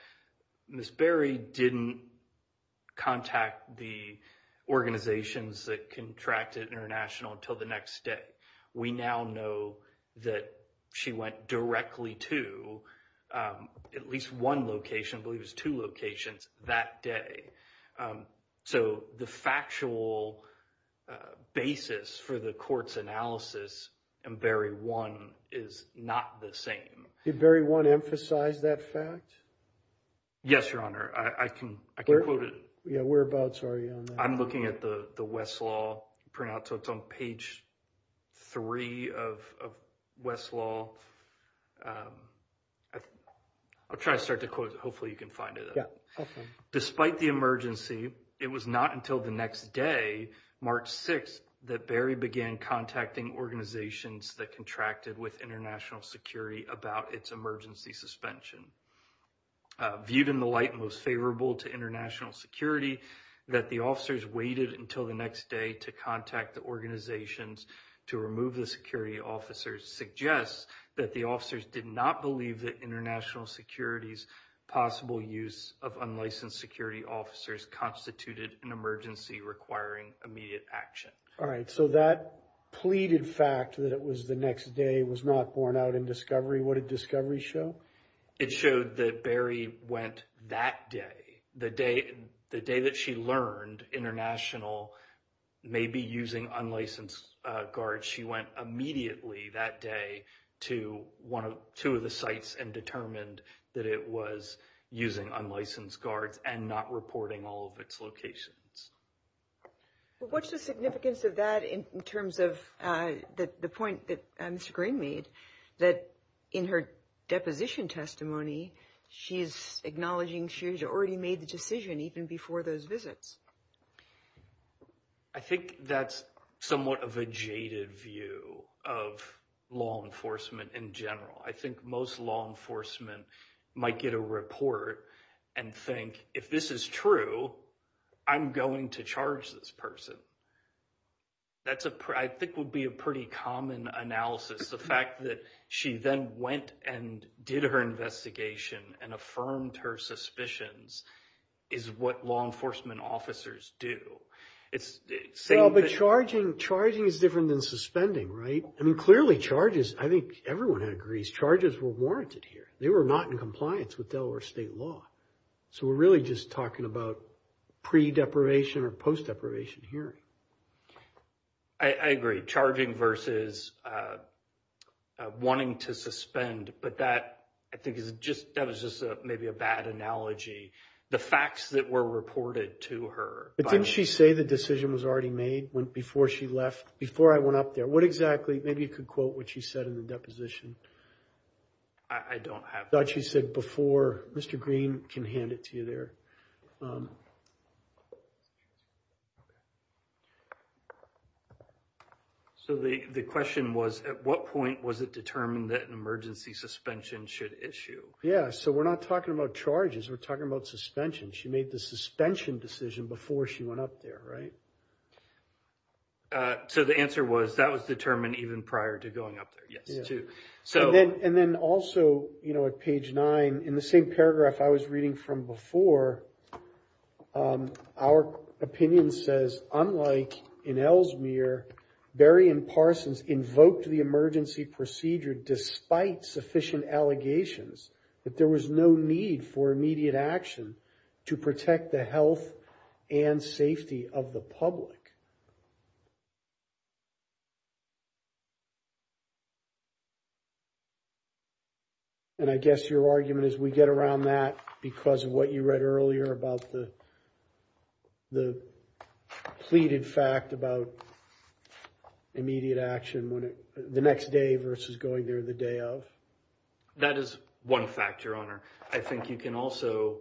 Ms. Berry didn't contact the organizations that contracted International until the next day. We now know that she went directly to at least one location, I believe it was two locations, that day. So the factual basis for the court's analysis in Berry 1 is not the same. Did Berry 1 emphasize that fact? Yes, Your Honor. I can quote it. Yeah, whereabouts are you on that? I'm looking at the Westlaw printout. So it's on page three of Westlaw. I'll try to start to quote it. Hopefully, you can find it. Despite the emergency, it was not until the next day, March 6th, that Berry began contacting organizations that contracted with International Security about its emergency suspension. It was viewed in the light most favorable to International Security that the officers waited until the next day to contact the organizations to remove the security officers. Suggests that the officers did not believe that International Security's possible use of unlicensed security officers constituted an emergency requiring immediate action. All right. So that pleaded fact that it was the next day was not borne out in discovery. What did discovery show? It showed that Berry went that day, the day that she learned International may be using unlicensed guards. She went immediately that day to two of the sites and determined that it was using unlicensed guards and not reporting all of its locations. What's the significance of that in terms of the point that Mr. Green made, that in her deposition testimony, she's acknowledging she's already made the decision even before those visits? I think that's somewhat of a jaded view of law enforcement in general. I think most law enforcement might get a report and think, if this is true, I'm going to charge this person. I think would be a pretty common analysis. The fact that she then went and did her investigation and affirmed her suspicions is what law enforcement officers do. It's the same- Well, but charging is different than suspending, right? I mean, clearly charges, I think everyone agrees, charges were warranted here. They were not in compliance with Delaware state law. So we're really just talking about pre-deprivation or post-deprivation hearing. I agree. Charging versus wanting to suspend. But that I think is just, that was just maybe a bad analogy. The facts that were reported to her- But didn't she say the decision was already made before she left, before I went up there? What exactly, maybe you could quote what she said in the deposition. I don't have- I thought she said before. Mr. Green can hand it to you there. So the question was, at what point was it determined that an emergency suspension should issue? Yeah, so we're not talking about charges. We're talking about suspension. She made the suspension decision before she went up there, right? So the answer was that was determined even prior to going up there, yes, too. And then also, at page nine, in the same paragraph I was reading from before, our opinion says, unlike in Ellesmere, Barry and Parsons invoked the emergency procedure despite sufficient allegations that there was no need for immediate action to protect the health and safety of the public. And I guess your argument is we get around that because of what you read earlier about the the pleaded fact about immediate action when it- the next day versus going there the day of? That is one fact, Your Honor. I think you can also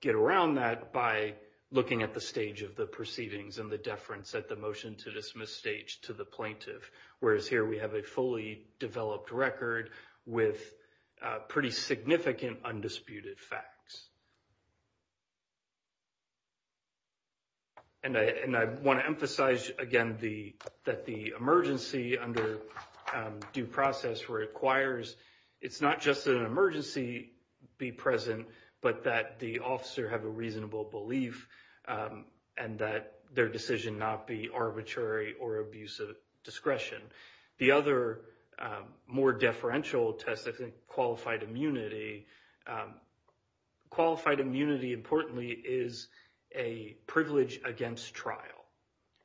get around that by looking at the stage of the proceedings and the deference that we're making to the fact that there was no need for immediate action. The motion to dismiss stage to the plaintiff, whereas here we have a fully developed record with pretty significant undisputed facts. And I want to emphasize again the- that the emergency under due process requires it's not just an emergency be present, but that the officer have a reasonable belief and that their decision not be arbitrary or abuse of discretion. The other more deferential test, I think, qualified immunity. Qualified immunity, importantly, is a privilege against trial.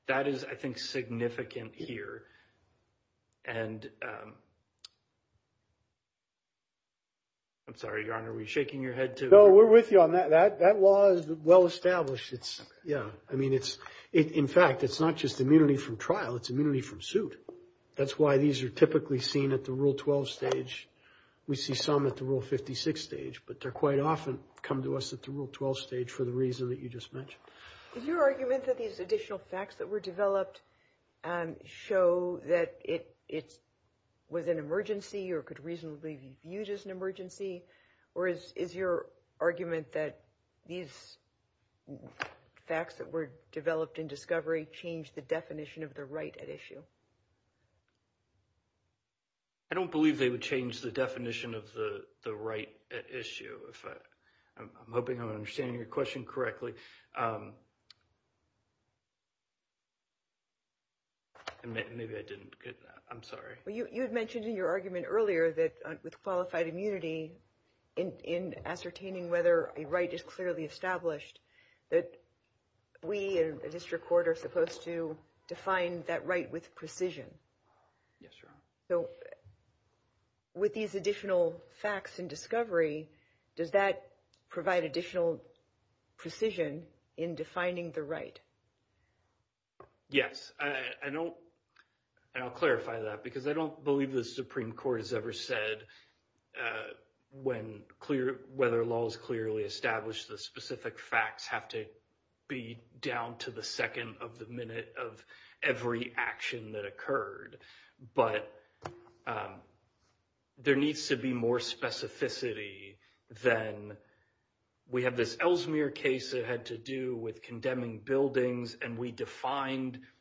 That is, I think, significant here. And I'm sorry, Your Honor, are we shaking your head too? No, we're with you on that. That law is well established. It's, yeah, I mean, it's- in fact, it's not just immunity from trial, it's immunity from suit. That's why these are typically seen at the Rule 12 stage. We see some at the Rule 56 stage, but they're quite often come to us at the Rule 12 stage for the reason that you just mentioned. Is your argument that these additional facts that were developed show that it was an emergency or could reasonably be used as an emergency? Or is your argument that these facts that were developed in discovery changed the definition of the right at issue? I don't believe they would change the definition of the right at issue. I'm hoping I'm understanding your question correctly. Maybe I didn't get that. I'm sorry. You had mentioned in your argument earlier that with qualified immunity in ascertaining whether a right is clearly established, that we in the district court are supposed to define that right with precision. Yes, Your Honor. So with these additional facts in discovery, does that provide additional precision in defining the right? Yes. I'll clarify that because I don't believe the Supreme Court has ever said whether a law is clearly established, the specific facts have to be down to the second of the minute of every action that occurred. But there needs to be more specificity than we have this Ellesmere case that had to do with condemning buildings. And we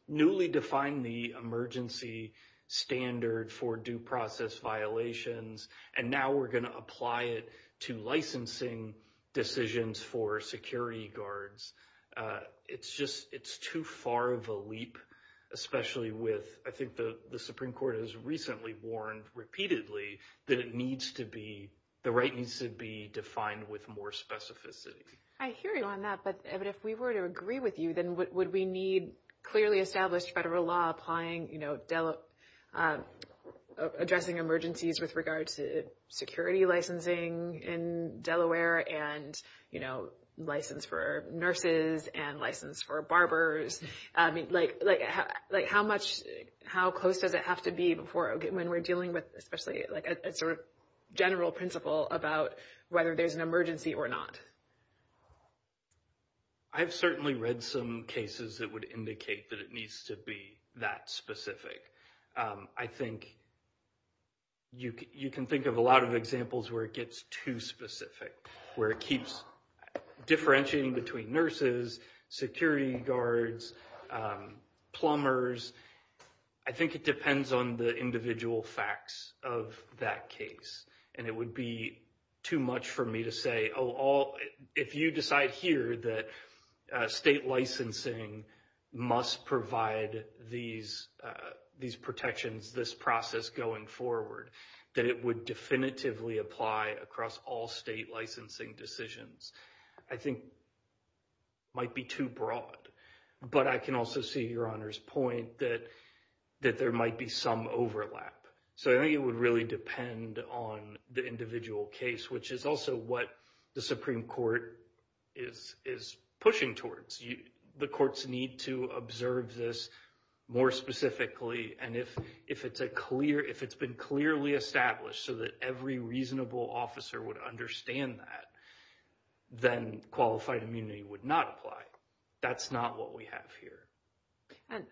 newly defined the emergency standard for due process violations. And now we're going to apply it to licensing decisions for security guards. It's too far of a leap, especially with I think the Supreme Court has recently warned repeatedly that the right needs to be defined with more specificity. I hear you on that. But if we were to agree with you, then would we need clearly established federal law addressing emergencies with regards to security licensing in Delaware and, you know, license for nurses and license for barbers? I mean, like how much, how close does it have to be before when we're dealing with, especially like a sort of general principle about whether there's an emergency or not? I've certainly read some cases that would indicate that it needs to be that specific. I think you can think of a lot of examples where it gets too specific, where it keeps differentiating between nurses, security guards, plumbers. I think it depends on the individual facts of that case. And it would be too much for me to say, oh, if you decide here that state licensing must provide these protections, this process going forward, that it would definitively apply across all state licensing decisions. I think it might be too broad. But I can also see Your Honor's point that there might be some overlap. So I think it would really depend on the individual case, which is also what the Supreme Court is pushing towards. The courts need to observe this more specifically. And if it's been clearly established so that every reasonable officer would understand that, then qualified immunity would not apply. That's not what we have here. And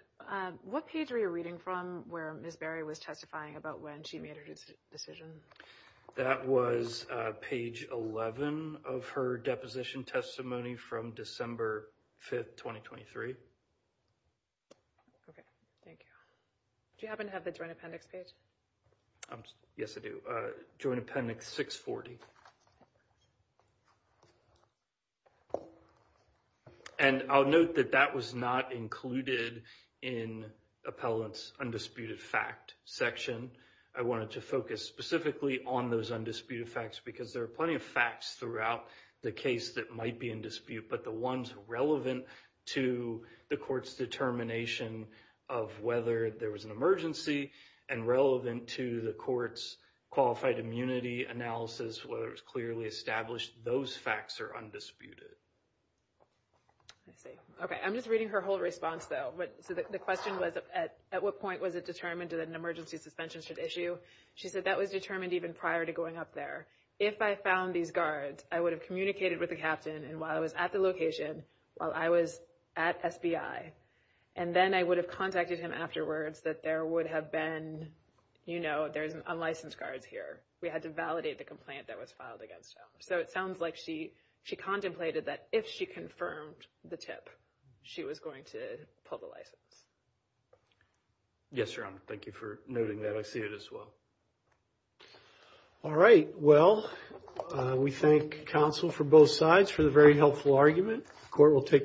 what page are you reading from where Ms. Berry was testifying about when she made her decision? That was page 11 of her deposition testimony from December 5th, 2023. Okay, thank you. Do you happen to have the Joint Appendix page? Yes, I do. Joint Appendix 640. Okay. And I'll note that that was not included in appellant's undisputed fact section. I wanted to focus specifically on those undisputed facts because there are plenty of facts throughout the case that might be in dispute. But the ones relevant to the court's determination of whether there was an emergency and relevant to the court's qualified immunity analysis, whether it was clearly established, those facts are undisputed. I see. Okay, I'm just reading her whole response though. But so the question was, at what point was it determined that an emergency suspension should issue? She said that was determined even prior to going up there. If I found these guards, I would have communicated with the captain and while I was at the location, while I was at SBI. And then I would have contacted him afterwards that there would have been, you know, there's unlicensed guards here. We had to validate the complaint that was filed against him. So it sounds like she contemplated that if she confirmed the tip, she was going to pull the license. Yes, Your Honor. Thank you for noting that. I see it as well. All right. Well, we thank counsel for both sides for the very helpful argument. The court will take the vote.